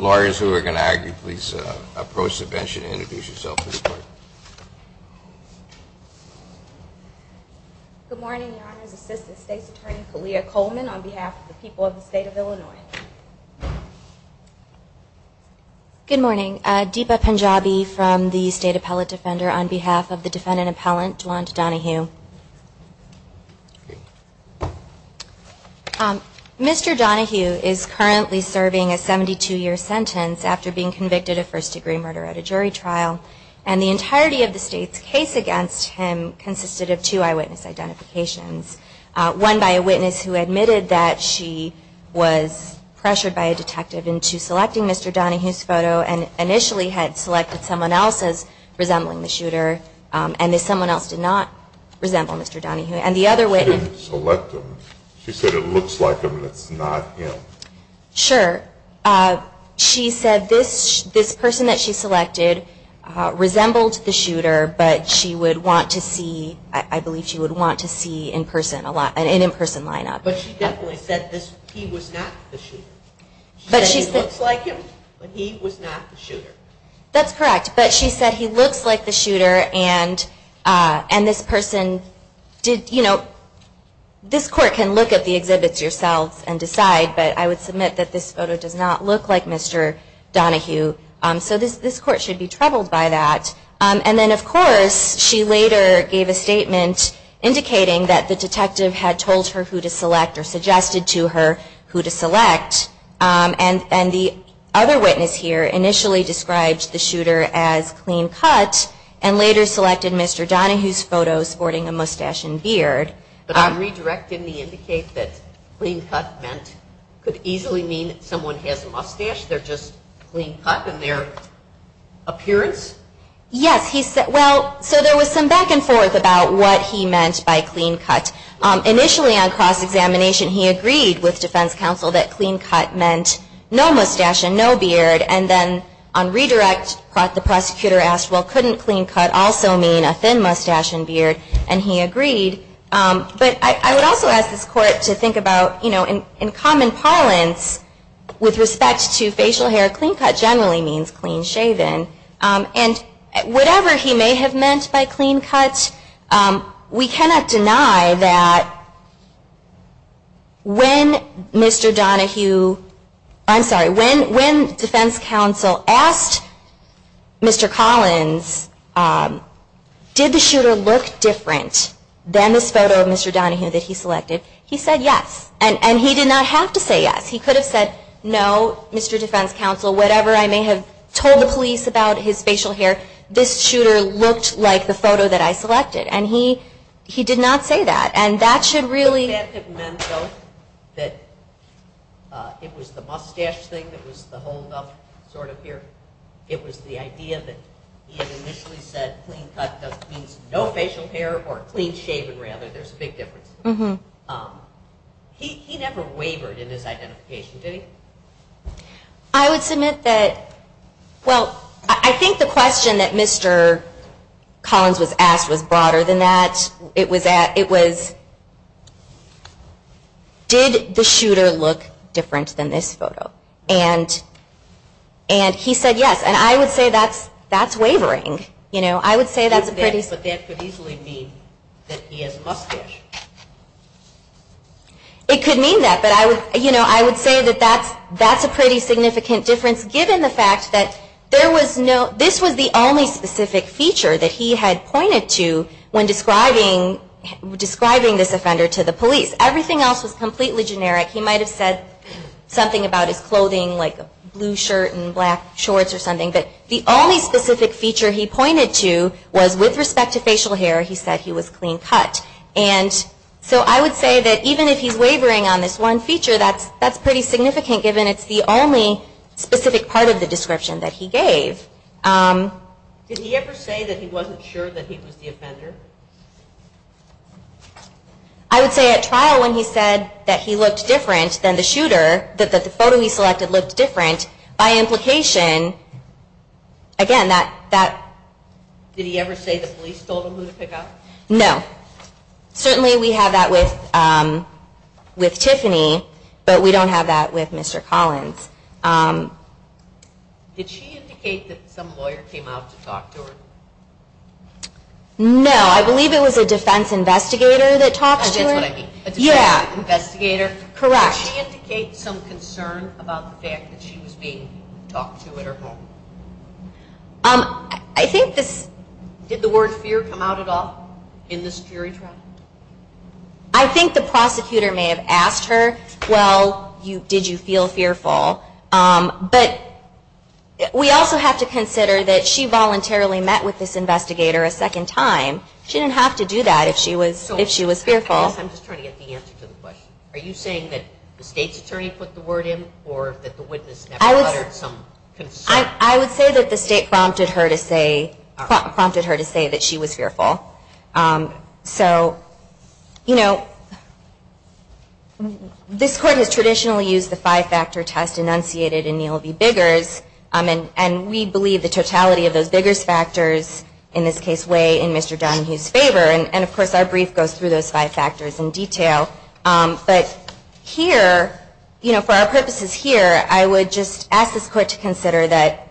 Lawyers who are going to argue, please approach the bench and introduce yourself for the report. Good morning, Your Honor's Assistant State's Attorney, Kalia Coleman, on behalf of the people of the State of Illinois. Good morning, Deepa Panjabi from the State Appellate Defender on behalf of the defendant appellant, Juand Donahue. Mr. Donahue is currently serving a 72-year sentence after being convicted of first-degree murder at a jury trial, and the entirety of the State's case against him consisted of two eyewitness identifications, one by a witness who admitted that she was pressured by a detective into selecting Mr. Donahue's photo and initially had selected someone else as resembling the shooter, and that someone else did not resemble Mr. Donahue. And the other witness… She didn't select him. She said it looks like him and it's not him. Sure. She said this person that she selected resembled the shooter, but she would want to see, I believe she would want to see an in-person lineup. But she definitely said he was not the shooter. She said he looks like him, but he was not the shooter. That's correct, but she said he looks like the shooter, and this person, you know, this court can look at the exhibits yourselves and decide, but I would submit that this photo does not look like Mr. Donahue. So this court should be troubled by that. And then, of course, she later gave a statement indicating that the detective had told her who to select or suggested to her who to select, and the other witness here initially described the shooter as clean-cut and later selected Mr. Donahue's photo sporting a mustache and beard. But I'm redirecting the indicate that clean-cut could easily mean someone has a mustache, they're just clean-cut in their appearance? Yes. Well, so there was some back and forth about what he meant by clean-cut. Initially on cross-examination he agreed with defense counsel that clean-cut meant no mustache and no beard, and then on redirect the prosecutor asked, well, couldn't clean-cut also mean a thin mustache and beard? And he agreed. But I would also ask this court to think about, you know, in common parlance with respect to facial hair, clean-cut generally means clean-shaven. And whatever he may have meant by clean-cut, we cannot deny that when Mr. Donahue, I'm sorry, when defense counsel asked Mr. Collins, did the shooter look different than this photo of Mr. Donahue that he selected, he said yes. And he did not have to say yes. He could have said, no, Mr. Defense Counsel, whatever I may have told the police about his facial hair, this shooter looked like the photo that I selected. And he did not say that. And that should really... If that had meant, though, that it was the mustache thing that was the holdup sort of here, it was the idea that he had initially said clean-cut just means no facial hair or clean-shaven rather. There's a big difference. He never wavered in his identification, did he? I would submit that, well, I think the question that Mr. Collins was asked was broader than that. It was, did the shooter look different than this photo? And he said yes. And I would say that's wavering. You know, I would say that's a pretty... But that could easily mean that he has a mustache. It could mean that. But, you know, I would say that that's a pretty significant difference, given the fact that there was no... This was the only specific feature that he had pointed to when describing this offender to the police. Everything else was completely generic. He might have said something about his clothing, like a blue shirt and black shorts or something. But the only specific feature he pointed to was, with respect to facial hair, he said he was clean-cut. And so I would say that even if he's wavering on this one feature, that's pretty significant, given it's the only specific part of the description that he gave. Did he ever say that he wasn't sure that he was the offender? I would say at trial when he said that he looked different than the shooter, that the photo he selected looked different, by implication, again, that... Did he ever say the police told him who to pick up? No. But certainly we have that with Tiffany, but we don't have that with Mr. Collins. Did she indicate that some lawyer came out to talk to her? No. I believe it was a defense investigator that talked to her. That's what I mean. Yeah. A defense investigator? Correct. Did she indicate some concern about the fact that she was being talked to at her home? I think this... Did the word fear come out at all in this jury trial? I think the prosecutor may have asked her, well, did you feel fearful? But we also have to consider that she voluntarily met with this investigator a second time. She didn't have to do that if she was fearful. I'm just trying to get the answer to the question. Are you saying that the state's attorney put the word in or that the witness never uttered some concern? I would say that the state prompted her to say that she was fearful. So, you know, this Court has traditionally used the five-factor test enunciated in Neal v. Biggers, and we believe the totality of those Biggers factors, in this case, weigh in Mr. Dunn's favor. And, of course, our brief goes through those five factors in detail. But here, for our purposes here, I would just ask this Court to consider that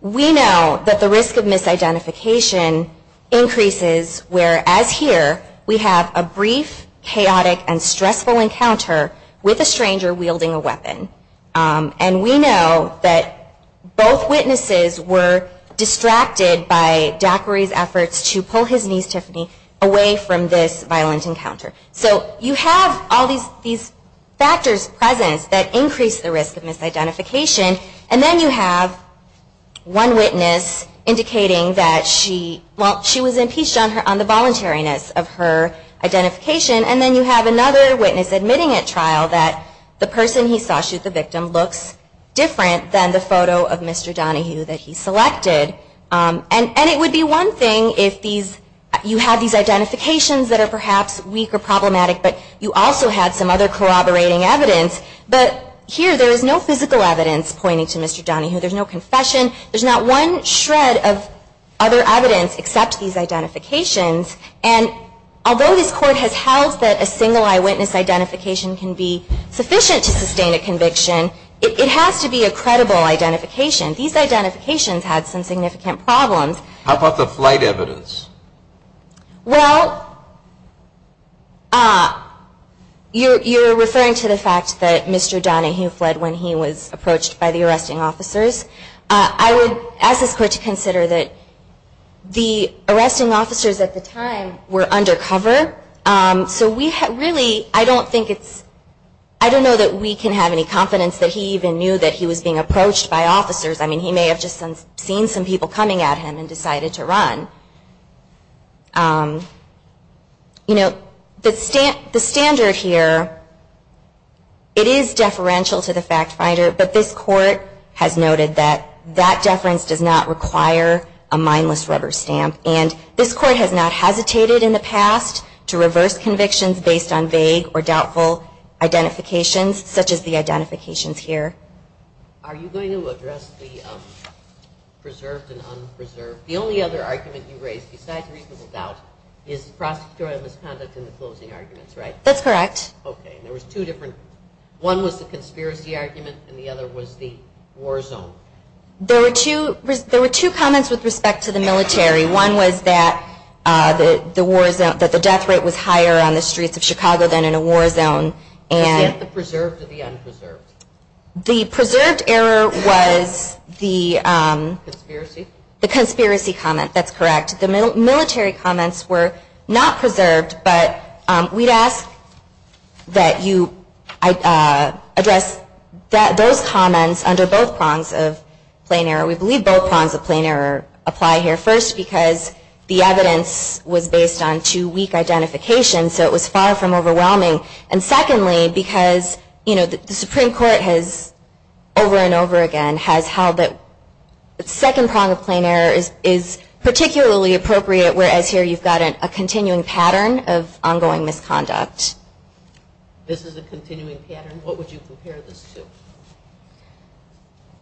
we know that the risk of misidentification increases, whereas here we have a brief, chaotic, and stressful encounter with a stranger wielding a weapon. And we know that both witnesses were distracted by Daquiri's efforts to pull his niece Tiffany away from this violent encounter. So you have all these factors present that increase the risk of misidentification. And then you have one witness indicating that she was impeached on the voluntariness of her identification. And then you have another witness admitting at trial that the person he saw shoot the victim looks different than the photo of Mr. Donahue that he selected. And it would be one thing if you have these identifications that are perhaps weak or problematic, but you also had some other corroborating evidence. But here there is no physical evidence pointing to Mr. Donahue. There's no confession. There's not one shred of other evidence except these identifications. And although this Court has held that a single eyewitness identification can be sufficient to sustain a conviction, it has to be a credible identification. These identifications had some significant problems. How about the flight evidence? Well, you're referring to the fact that Mr. Donahue fled when he was approached by the arresting officers. I would ask this Court to consider that the arresting officers at the time were undercover. So we really, I don't think it's, I don't know that we can have any confidence that he even knew that he was being approached by officers. I mean, he may have just seen some people coming at him and decided to run. You know, the standard here, it is deferential to the fact finder, but this Court has noted that that deference does not require a mindless rubber stamp. And this Court has not hesitated in the past to reverse convictions based on vague or doubtful identifications such as the identifications here. Are you going to address the preserved and unpreserved? The only other argument you raised besides reasonable doubt is prosecutorial misconduct in the closing arguments, right? That's correct. Okay. There was two different, one was the conspiracy argument and the other was the war zone. There were two comments with respect to the military. One was that the death rate was higher on the streets of Chicago than in a war zone. Was it the preserved or the unpreserved? The preserved error was the conspiracy comment, that's correct. The military comments were not preserved, but we'd ask that you address those comments under both prongs of plain error. We believe both prongs of plain error apply here. First, because the evidence was based on too weak identification, so it was far from overwhelming. And secondly, because, you know, the Supreme Court has, over and over again, has held that the second prong of plain error is particularly appropriate, whereas here you've got a continuing pattern of ongoing misconduct. This is a continuing pattern? What would you compare this to?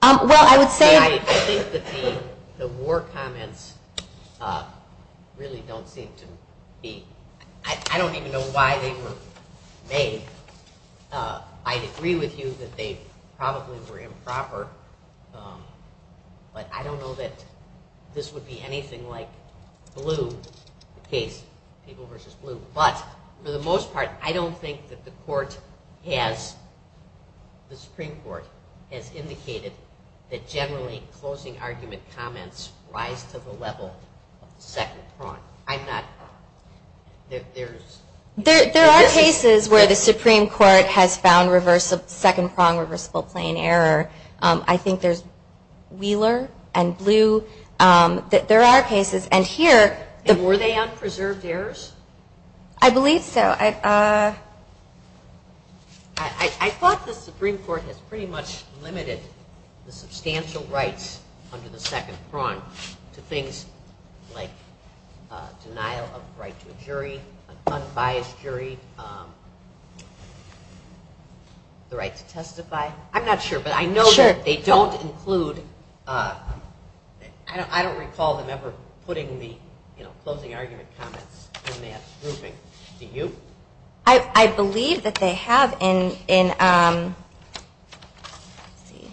Well, I would say... I think the war comments really don't seem to be... I don't even know why they were made. I agree with you that they probably were improper, but I don't know that this would be anything like Blue, the case of People v. Blue. But, for the most part, I don't think that the Supreme Court has indicated that generally closing argument comments rise to the level of the second prong. I'm not... There are cases where the Supreme Court has found second prong reversible plain error. I think there's Wheeler and Blue. There are cases, and here... And were they unpreserved errors? I believe so. I thought the Supreme Court has pretty much limited the substantial rights under the second prong to things like denial of right to a jury, an unbiased jury, the right to testify. I'm not sure, but I know that they don't include... closing argument comments in that grouping. Do you? I believe that they have in... Let's see.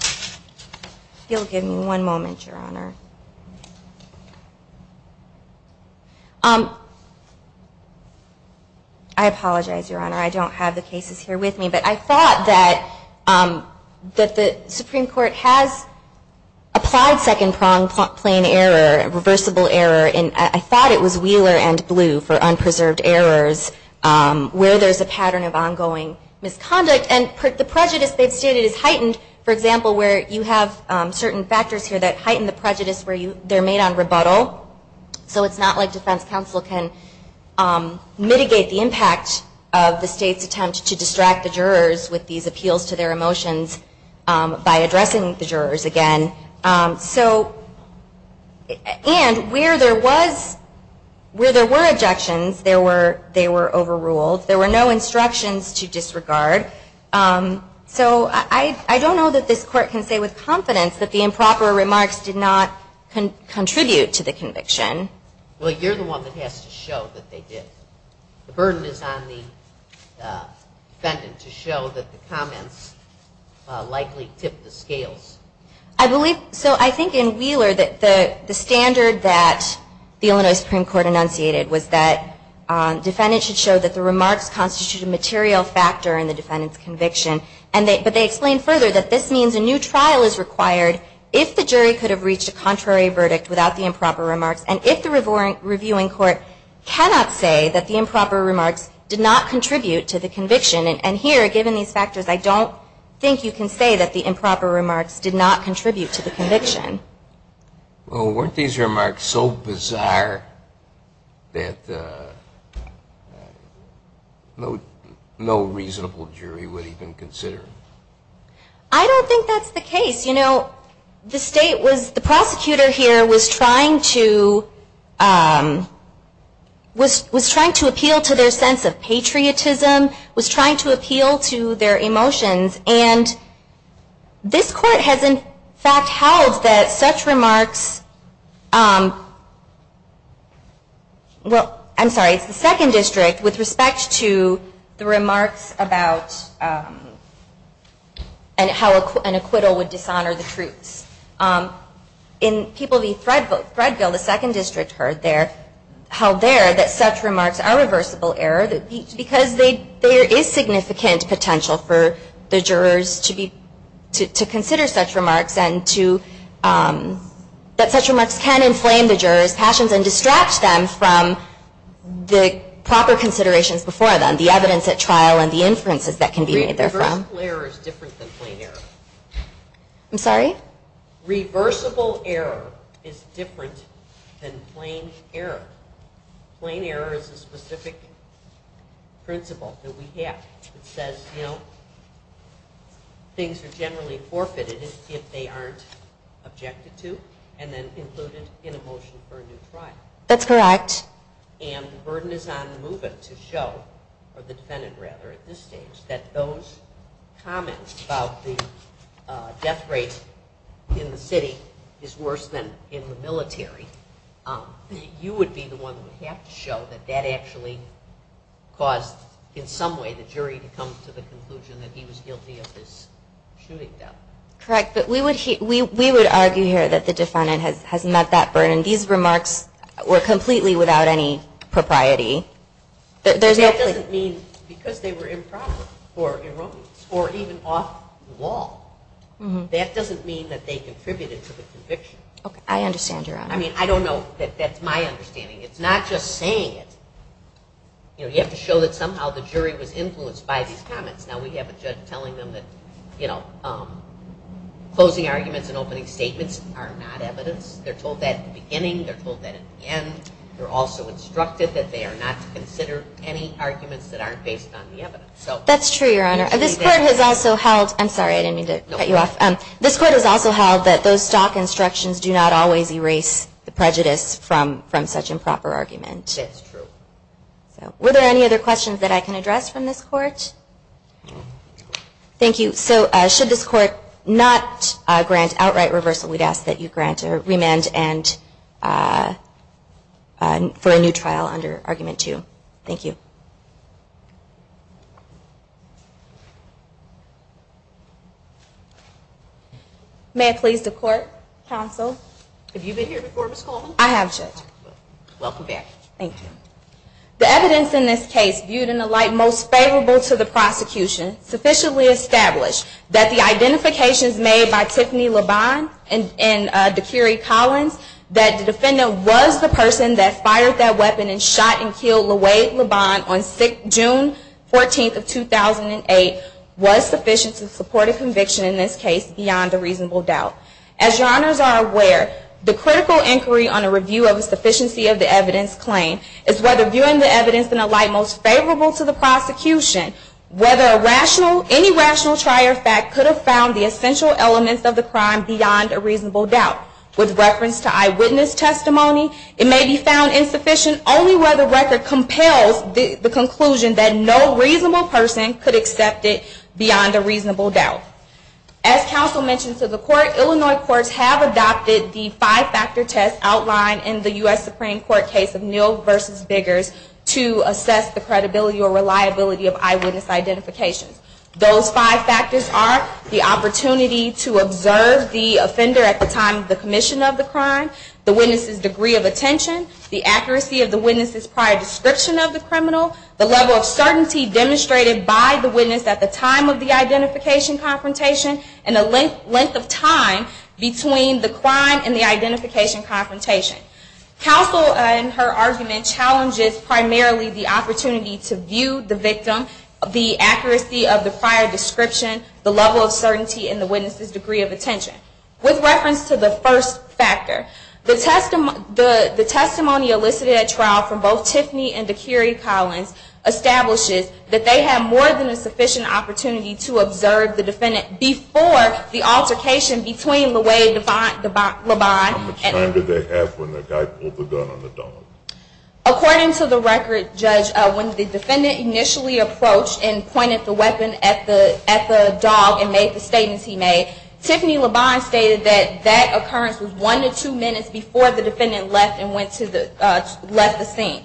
If you'll give me one moment, Your Honor. I apologize, Your Honor. I don't have the cases here with me, but I thought that the Supreme Court has applied second prong plain error, reversible error, and I thought it was Wheeler and Blue for unpreserved errors where there's a pattern of ongoing misconduct. And the prejudice they've stated is heightened. For example, where you have certain factors here that heighten the prejudice where they're made on rebuttal. So it's not like defense counsel can mitigate the impact of the state's attempt to distract the jurors with these appeals to their emotions by addressing the jurors again. And where there were objections, they were overruled. There were no instructions to disregard. So I don't know that this Court can say with confidence that the improper remarks did not contribute to the conviction. Well, you're the one that has to show that they did. The burden is on the defendant to show that the comments likely tipped the scales. I believe so. I think in Wheeler that the standard that the Illinois Supreme Court enunciated was that defendants should show that the remarks constitute a material factor in the defendant's conviction. But they explain further that this means a new trial is required if the jury could have reached a contrary verdict without the improper remarks and if the reviewing court cannot say that the improper remarks did not contribute to the conviction. And here, given these factors, I don't think you can say that the improper remarks did not contribute to the conviction. Well, weren't these remarks so bizarre that no reasonable jury would even consider them? I don't think that's the case. The state was, the prosecutor here was trying to appeal to their sense of patriotism, was trying to appeal to their emotions, and this Court has in fact held that such remarks, well, I'm sorry, it's the Second District, with respect to the remarks about how an acquittal would dishonor the truths. In People v. Threadville, the Second District held there that such remarks are a reversible error because there is significant potential for the jurors to consider such remarks and that such remarks can inflame the jurors' passions and distract them from the proper considerations before them, the evidence at trial and the inferences that can be made therefrom. Reversible error is different than plain error. I'm sorry? Reversible error is different than plain error. Plain error is a specific principle that we have that says, you know, things are generally forfeited if they aren't objected to and then included in a motion for a new trial. That's correct. And the burden is on MUVA to show, or the defendant rather at this stage, that those comments about the death rate in the city is worse than in the military. You would be the one who would have to show that that actually caused in some way the jury to come to the conclusion that he was guilty of this shooting death. Correct. But we would argue here that the defendant has met that burden. These remarks were completely without any propriety. That doesn't mean because they were improper or erroneous or even off the wall. That doesn't mean that they contributed to the conviction. I understand, Your Honor. I mean, I don't know. That's my understanding. It's not just saying it. You have to show that somehow the jury was influenced by these comments. Now we have a judge telling them that closing arguments and opening statements are not evidence. They're told that at the beginning. They're told that at the end. They're also instructed that they are not to consider any arguments that aren't based on the evidence. That's true, Your Honor. This Court has also held that those stock instructions do not always erase the prejudice from such improper argument. That's true. Were there any other questions that I can address from this Court? Thank you. So should this Court not grant outright reversal, we'd ask that you grant or remand and for a new trial under Argument 2. Thank you. May I please the Court? Counsel? Have you been here before, Ms. Coleman? I have, Judge. Welcome back. Thank you. The evidence in this case, viewed in a light most favorable to the prosecution, sufficiently established that the identifications made by Tiffany LeBond and Dakiri Collins, that the defendant was the person that fired that weapon and shot and killed LaWade LeBond on June 14th of 2008, was sufficient to support a conviction in this case beyond a reasonable doubt. As Your Honors are aware, the critical inquiry on a review of a sufficiency of the evidence claim is whether viewing the evidence in a light most favorable to the prosecution, whether any rational trier fact could have found the essential elements of the crime beyond a reasonable doubt. With reference to eyewitness testimony, it may be found insufficient only where the record compels the conclusion that no reasonable person could accept it beyond a reasonable doubt. As counsel mentioned to the Court, Illinois courts have adopted the five-factor test outline in the U.S. Supreme Court case of Neal v. Biggers to assess the credibility or reliability of eyewitness identifications. Those five factors are the opportunity to observe the offender at the time of the commission of the crime, the witness's degree of attention, the accuracy of the witness's prior description of the criminal, the level of certainty demonstrated by the witness at the time of the identification confrontation, and the length of time between the crime and the identification confrontation. Counsel, in her argument, challenges primarily the opportunity to view the victim, the accuracy of the prior description, the level of certainty in the witness's degree of attention. With reference to the first factor, the testimony elicited at trial from both Tiffany and D'Curie Collins establishes that they have more than a sufficient opportunity to observe the defendant before the altercation between LeWay and LeBond. How much time did they have when the guy pulled the gun on the dog? According to the record, Judge, when the defendant initially approached and pointed the weapon at the dog and made the statements he made, Tiffany LeBond stated that that occurrence was one to two minutes before the defendant left the scene.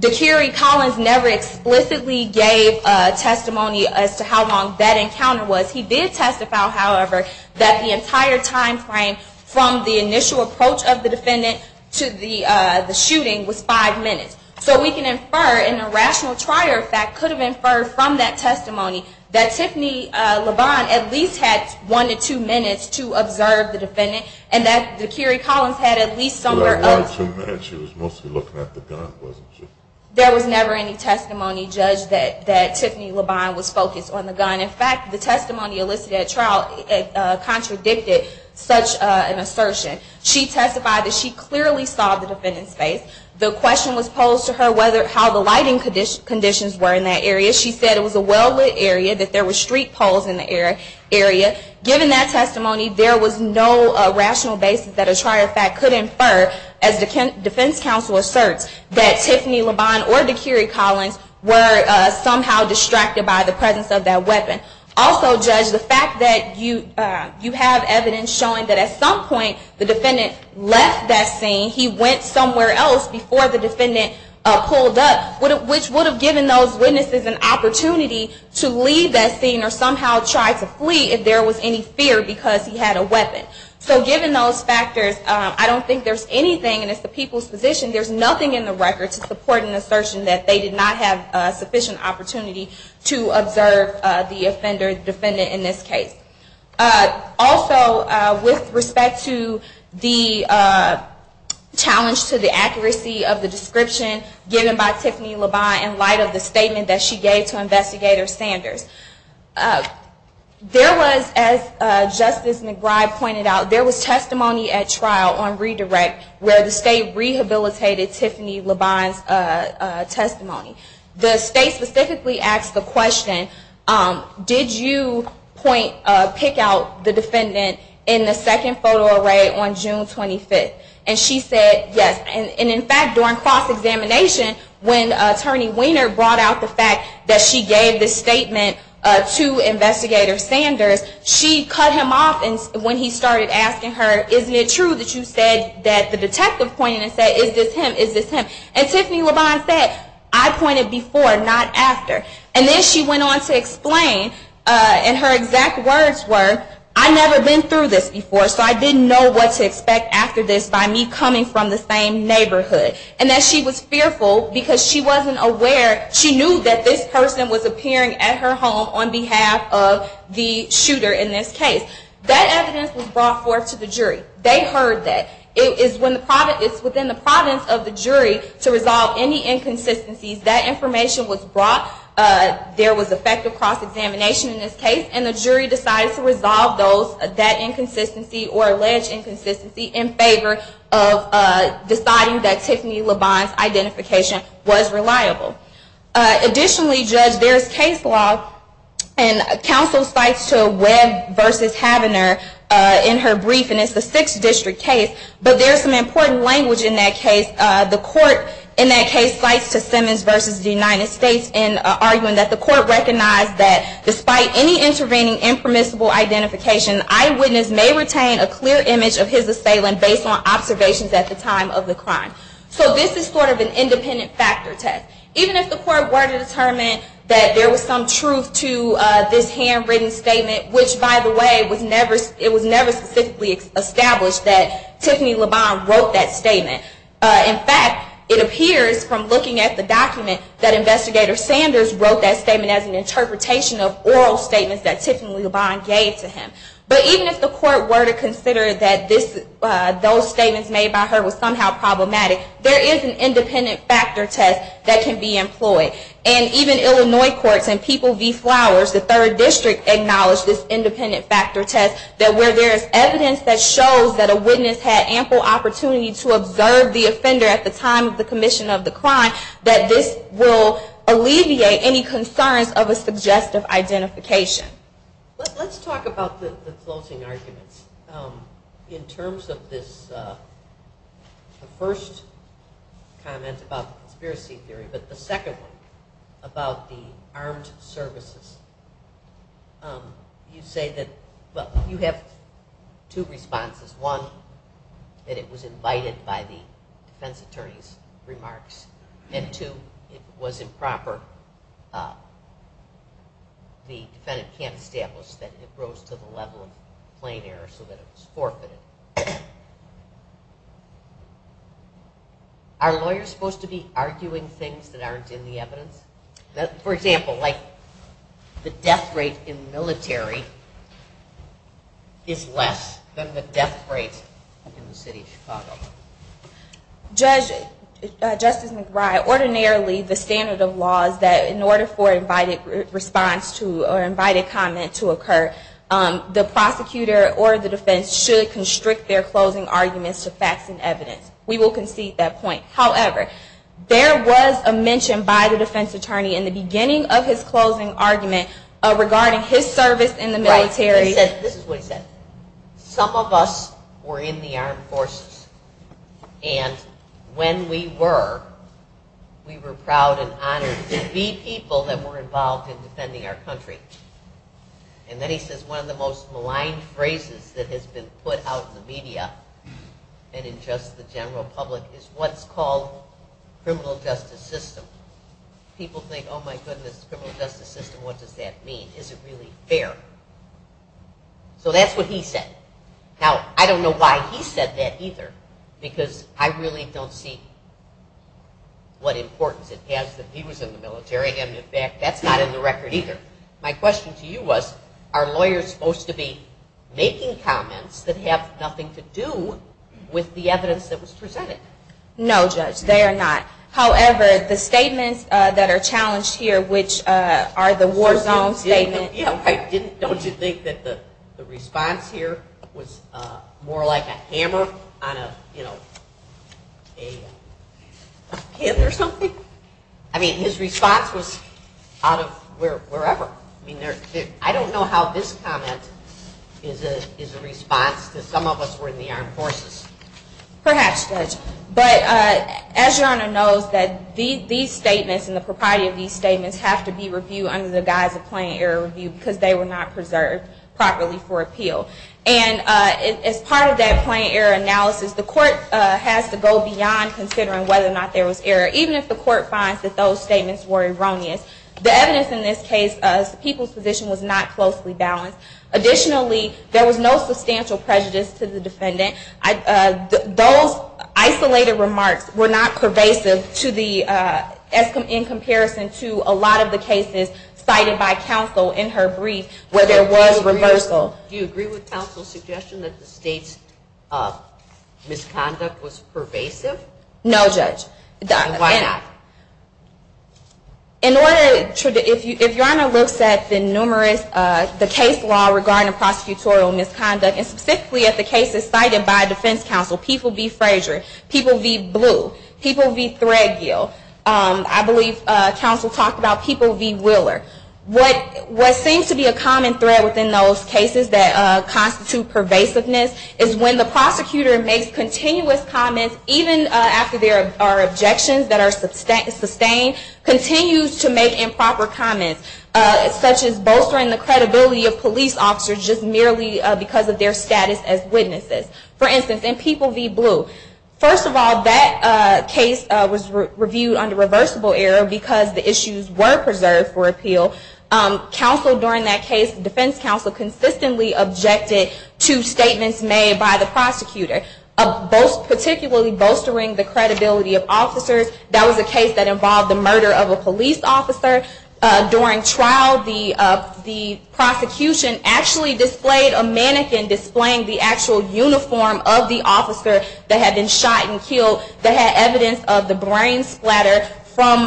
D'Curie Collins never explicitly gave testimony as to how long that encounter was. He did testify, however, that the entire time frame from the initial approach of the defendant to the shooting was five minutes. So we can infer, in a rational trier fact, could have inferred from that testimony that Tiffany LeBond at least had one to two minutes to observe the defendant, and that D'Curie Collins had at least some number of minutes. She was mostly looking at the gun, wasn't she? There was never any testimony, Judge, that Tiffany LeBond was focused on the gun. In fact, the testimony elicited at trial contradicted such an assertion. She testified that she clearly saw the defendant's face. The question was posed to her how the lighting conditions were in that area. She said it was a well-lit area, that there were street poles in the area. Given that testimony, there was no rational basis that a trier fact could infer, as defense counsel asserts, that Tiffany LeBond or D'Curie Collins were somehow distracted by the presence of that weapon. Also, Judge, the fact that you have evidence showing that at some point the defendant left that scene, he went somewhere else before the defendant pulled up, which would have given those witnesses an opportunity to leave that scene or somehow try to flee if there was any fear because he had a weapon. So given those factors, I don't think there's anything, and it's the people's position, there's nothing in the record to support an assertion that they did not have sufficient opportunity to observe the defendant in this case. Also, with respect to the challenge to the accuracy of the description given by there was, as Justice McBride pointed out, there was testimony at trial on redirect where the state rehabilitated Tiffany LeBond's testimony. The state specifically asked the question, did you pick out the defendant in the second photo array on June 25th? And she said yes. And in fact, during cross-examination, when Attorney Weiner brought out the fact that she gave this statement to Investigator Sanders, she cut him off when he started asking her, isn't it true that you said that the detective pointed and said, is this him, is this him? And Tiffany LeBond said, I pointed before, not after. And then she went on to explain, and her exact words were, I've never been through this before, so I didn't know what to expect after this by me coming from the same neighborhood. And that she was fearful because she wasn't aware. She knew that this person was appearing at her home on behalf of the shooter in this case. That evidence was brought forth to the jury. They heard that. It's within the province of the jury to resolve any inconsistencies. That information was brought. There was effective cross-examination in this case, and the jury decided to resolve that inconsistency or alleged inconsistency in favor of deciding that Tiffany LeBond's identification was reliable. Additionally, Judge, there is case law, and counsel cites to Webb v. Havener in her brief, and it's the 6th District case, but there is some important language in that case. The court in that case cites to Simmons v. United States in arguing that the court recognized that despite any intervening impermissible identification, the eyewitness may retain a clear image of his assailant based on observations at the time of the crime. So this is sort of an independent factor test. Even if the court were to determine that there was some truth to this handwritten statement, which, by the way, it was never specifically established that Tiffany LeBond wrote that statement. In fact, it appears from looking at the document that Investigator Sanders wrote that statement as an interpretation of oral statements that Tiffany LeBond gave to him. But even if the court were to consider that those statements made by her were somehow problematic, there is an independent factor test that can be employed. And even Illinois courts and People v. Flowers, the 3rd District, acknowledged this independent factor test that where there is evidence that shows that a witness had ample opportunity to observe the offender at the time of the commission of the crime, that this will alleviate any concerns of a suggestive identification. Let's talk about the closing arguments. In terms of this first comment about the conspiracy theory, but the second one about the armed services, you say that, well, you have two responses. One, that it was invited by the defense attorney's remarks. And two, it was improper. The defendant can't establish that it rose to the level of plain error so that it was forfeited. Are lawyers supposed to be arguing things that aren't in the evidence? For example, like the death rate in the military is less than the death rate in the city of Chicago. Judge, Justice McBride, ordinarily the standard of law is that in order for invited response to or invited comment to occur, the prosecutor or the defense should constrict their closing arguments to facts and evidence. We will concede that point. However, there was a mention by the defense attorney in the beginning of his closing argument regarding his service in the military. This is what he said. Some of us were in the armed forces, and when we were, we were proud and honored to be people that were involved in defending our country. And then he says one of the most maligned phrases that has been put out in the media and in just the general public is what's called criminal justice system. People think, oh, my goodness, criminal justice system, what does that mean? Is it really fair? So that's what he said. Now, I don't know why he said that either, because I really don't see what importance it has that he was in the military and, in fact, that's not in the record either. My question to you was, are lawyers supposed to be making comments that have nothing to do with the evidence that was presented? No, Judge, they are not. However, the statements that are challenged here, which are the war zone statements. Don't you think that the response here was more like a hammer on a, you know, a pin or something? I mean, his response was out of wherever. I mean, I don't know how this comment is a response to some of us were in the armed forces. Perhaps, Judge. But as Your Honor knows, these statements and the propriety of these statements have to be reviewed under the guise of plain error review because they were not preserved properly for appeal. And as part of that plain error analysis, the court has to go beyond considering whether or not there was error, even if the court finds that those statements were erroneous. The evidence in this case, the people's position was not closely balanced. Additionally, there was no substantial prejudice to the defendant. Those isolated remarks were not pervasive to the, in comparison to a lot of the cases cited by counsel in her brief where there was reversal. Do you agree with counsel's suggestion that the state's misconduct was pervasive? No, Judge. Then why not? In order, if Your Honor looks at the numerous, the case law regarding prosecutorial misconduct, and specifically at the cases cited by defense counsel, people v. Frazier, people v. Blue, people v. Threadgill, I believe counsel talked about people v. Wheeler. What seems to be a common thread within those cases that constitute pervasiveness is when the prosecutor makes continuous comments, even after there are objections that are sustained, continues to make improper comments, such as bolstering the credibility of police officers just merely because of their status as witnesses. For instance, in people v. Blue, first of all, that case was reviewed under reversible error because the issues were preserved for appeal. Counsel during that case, defense counsel, consistently objected to the credibility of officers. That was a case that involved the murder of a police officer. During trial, the prosecution actually displayed a mannequin displaying the actual uniform of the officer that had been shot and killed that had evidence of the brain splatter from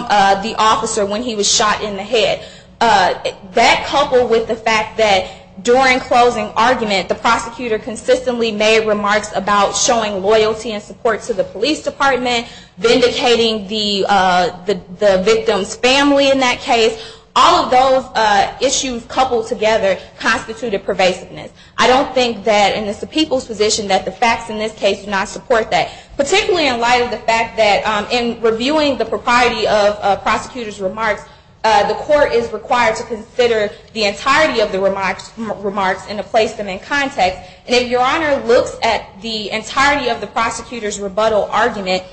the officer when he was shot in the head. That coupled with the fact that during closing argument, the prosecutor consistently made remarks about showing loyalty and support to the police department, vindicating the victim's family in that case, all of those issues coupled together constituted pervasiveness. I don't think that in the people's position that the facts in this case do not support that. Particularly in light of the fact that in reviewing the propriety of prosecutor's remarks, the court is required to consider the entirety of the prosecutor's remarks and to place them in context. And if your honor looks at the entirety of the prosecutor's rebuttal argument,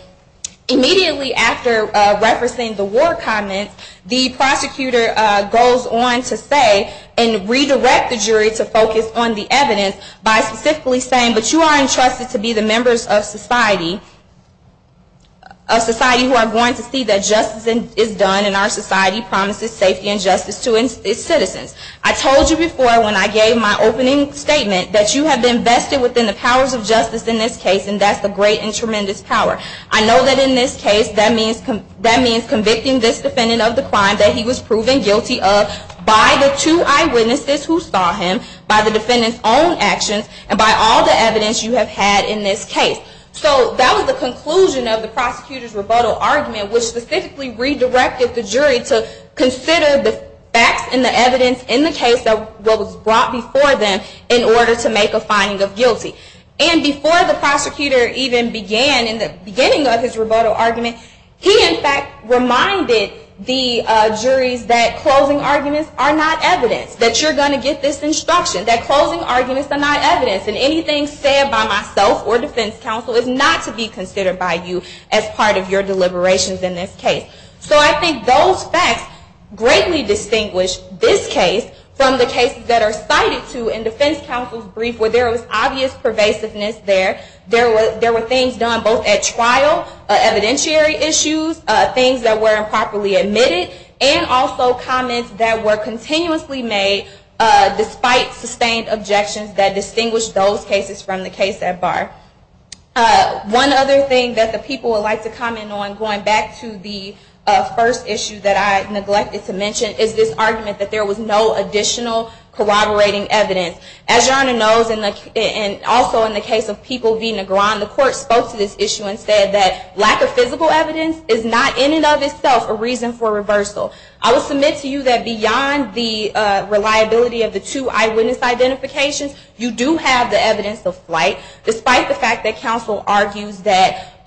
immediately after referencing the war comments, the prosecutor goes on to say and redirect the jury to focus on the evidence by specifically saying, but you are entrusted to be the members of society who are going to see that justice is done and our society promises safety and justice to its citizens. I told you before when I gave my opening statement that you have been vested within the powers of justice in this case, and that's a great and tremendous power. I know that in this case that means convicting this defendant of the crime that he was proven guilty of by the two eyewitnesses who saw him, by the defendant's own actions, and by all the evidence you have had in this case. So that was the conclusion of the prosecutor's rebuttal argument, which specifically redirected the jury to consider the facts and the evidence in the case that was brought before them in order to make a finding of guilty. And before the prosecutor even began in the beginning of his rebuttal argument, he in fact reminded the juries that closing arguments are not evidence, that you're going to get this instruction, that closing arguments are not evidence, and anything said by myself or defense counsel is not to be used in this case. So I think those facts greatly distinguish this case from the cases that are cited to in defense counsel's brief where there was obvious pervasiveness there. There were things done both at trial, evidentiary issues, things that were improperly admitted, and also comments that were continuously made despite sustained objections that distinguished those cases from the case at bar. One other thing that the people would like to comment on, going back to the first issue that I neglected to mention, is this argument that there was no additional corroborating evidence. As your Honor knows, and also in the case of people v. Negron, the court spoke to this issue and said that lack of physical evidence is not in and of itself a reason for reversal. I will submit to you that beyond the reliability of the two eyewitness identifications, you do have the evidence of flight, despite the fact that counsel argues that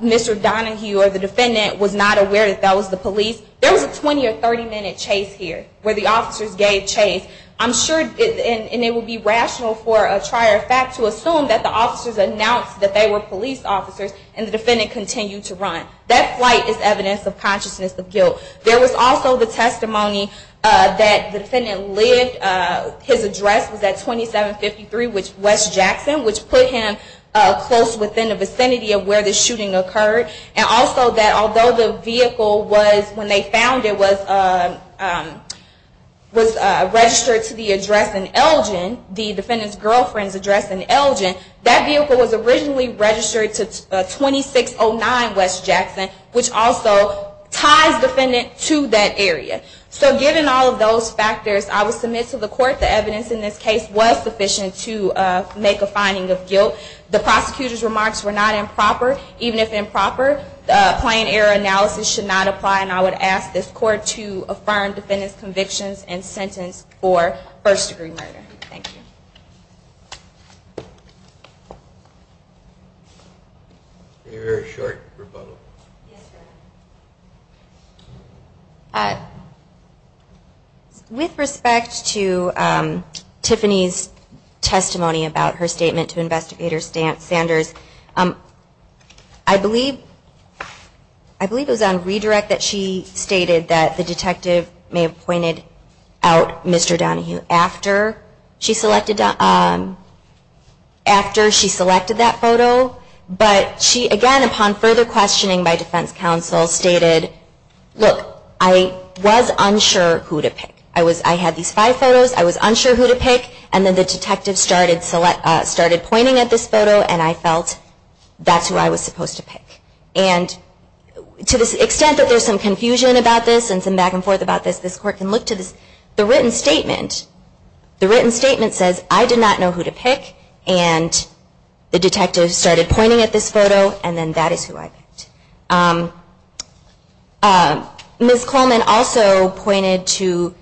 Mr. Donahue or the defendant was not aware that that was the police. There was a 20 or 30-minute chase here where the officers gave chase. I'm sure, and it would be rational for a trier fact to assume that the officers announced that they were police officers and the defendant continued to run. That flight is evidence of consciousness of guilt. There was also the testimony that the defendant lived, his address was at 2753 West Jackson, which put him close within the vicinity of where the shooting occurred. And also that although the vehicle was, when they found it, was registered to the address in Elgin, the defendant's girlfriend's address in Elgin, that vehicle was originally registered to 2609 West Jackson, which also ties the defendant to that area. So given all of those factors, I will submit to the court the evidence in this case was sufficient to make a finding of guilt. The prosecutor's remarks were not improper. Even if improper, plain error analysis should not apply, and I would ask this court to affirm defendant's convictions and sentence for first-degree murder. Thank you. A very short rebuttal. Yes, sir. With respect to Tiffany's testimony about her statement to Investigator Sanders, I believe it was on redirect that she stated that the detective may have pointed out Mr. Donahue after she selected that photo. But she, again, upon further questioning by defense counsel, stated, look, I was unsure who to pick. I had these five photos. I was unsure who to pick. And then the detective started pointing at this photo, and I felt that's who I was supposed to pick. And to the extent that there's some confusion about this and some back and forth about this, this court can look to the written statement. The written statement says, I did not know who to pick, and the detective started pointing at this photo, and then that is who I picked. Ms. Coleman also pointed to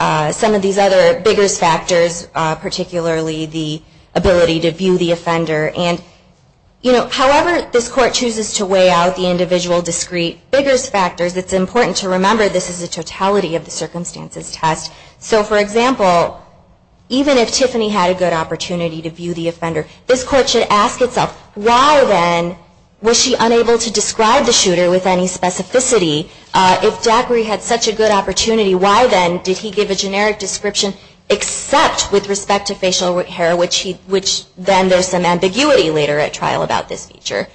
some of these other bigger factors, particularly the ability to view the offender. However this court chooses to weigh out the individual discrete bigger factors, it's important to remember this is a totality of the circumstances test. So, for example, even if Tiffany had a good opportunity to view the offender, this court should ask itself, why then was she unable to describe the shooter with any specificity? If Zachary had such a good opportunity, why then did he give a generic description except with respect to facial hair, which then there's some ambiguity later at trial about this feature?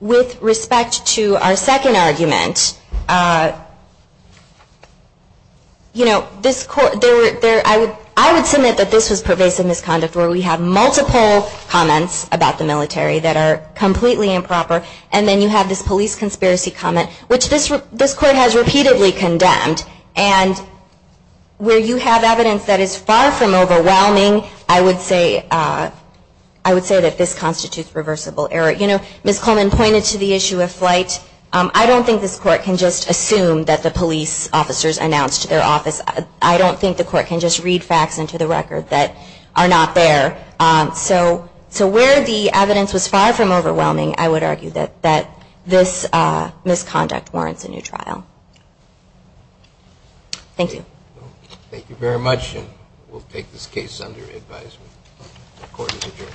With respect to our second argument, I would submit that this was pervasive misconduct where we have multiple comments about the military that are completely improper, and then you have this police conspiracy comment, which this court has repeatedly condemned. And where you have evidence that is far from overwhelming, I would say that this constitutes reversible error. You know, Ms. Coleman pointed to the issue of flight. I don't think this court can just assume that the police officers announced their office. I don't think the court can just read facts into the record that are not there. So where the evidence was far from overwhelming, I would argue that this misconduct warrants a new trial. Thank you. Thank you very much, and we'll take this case under advisement. The court is adjourned.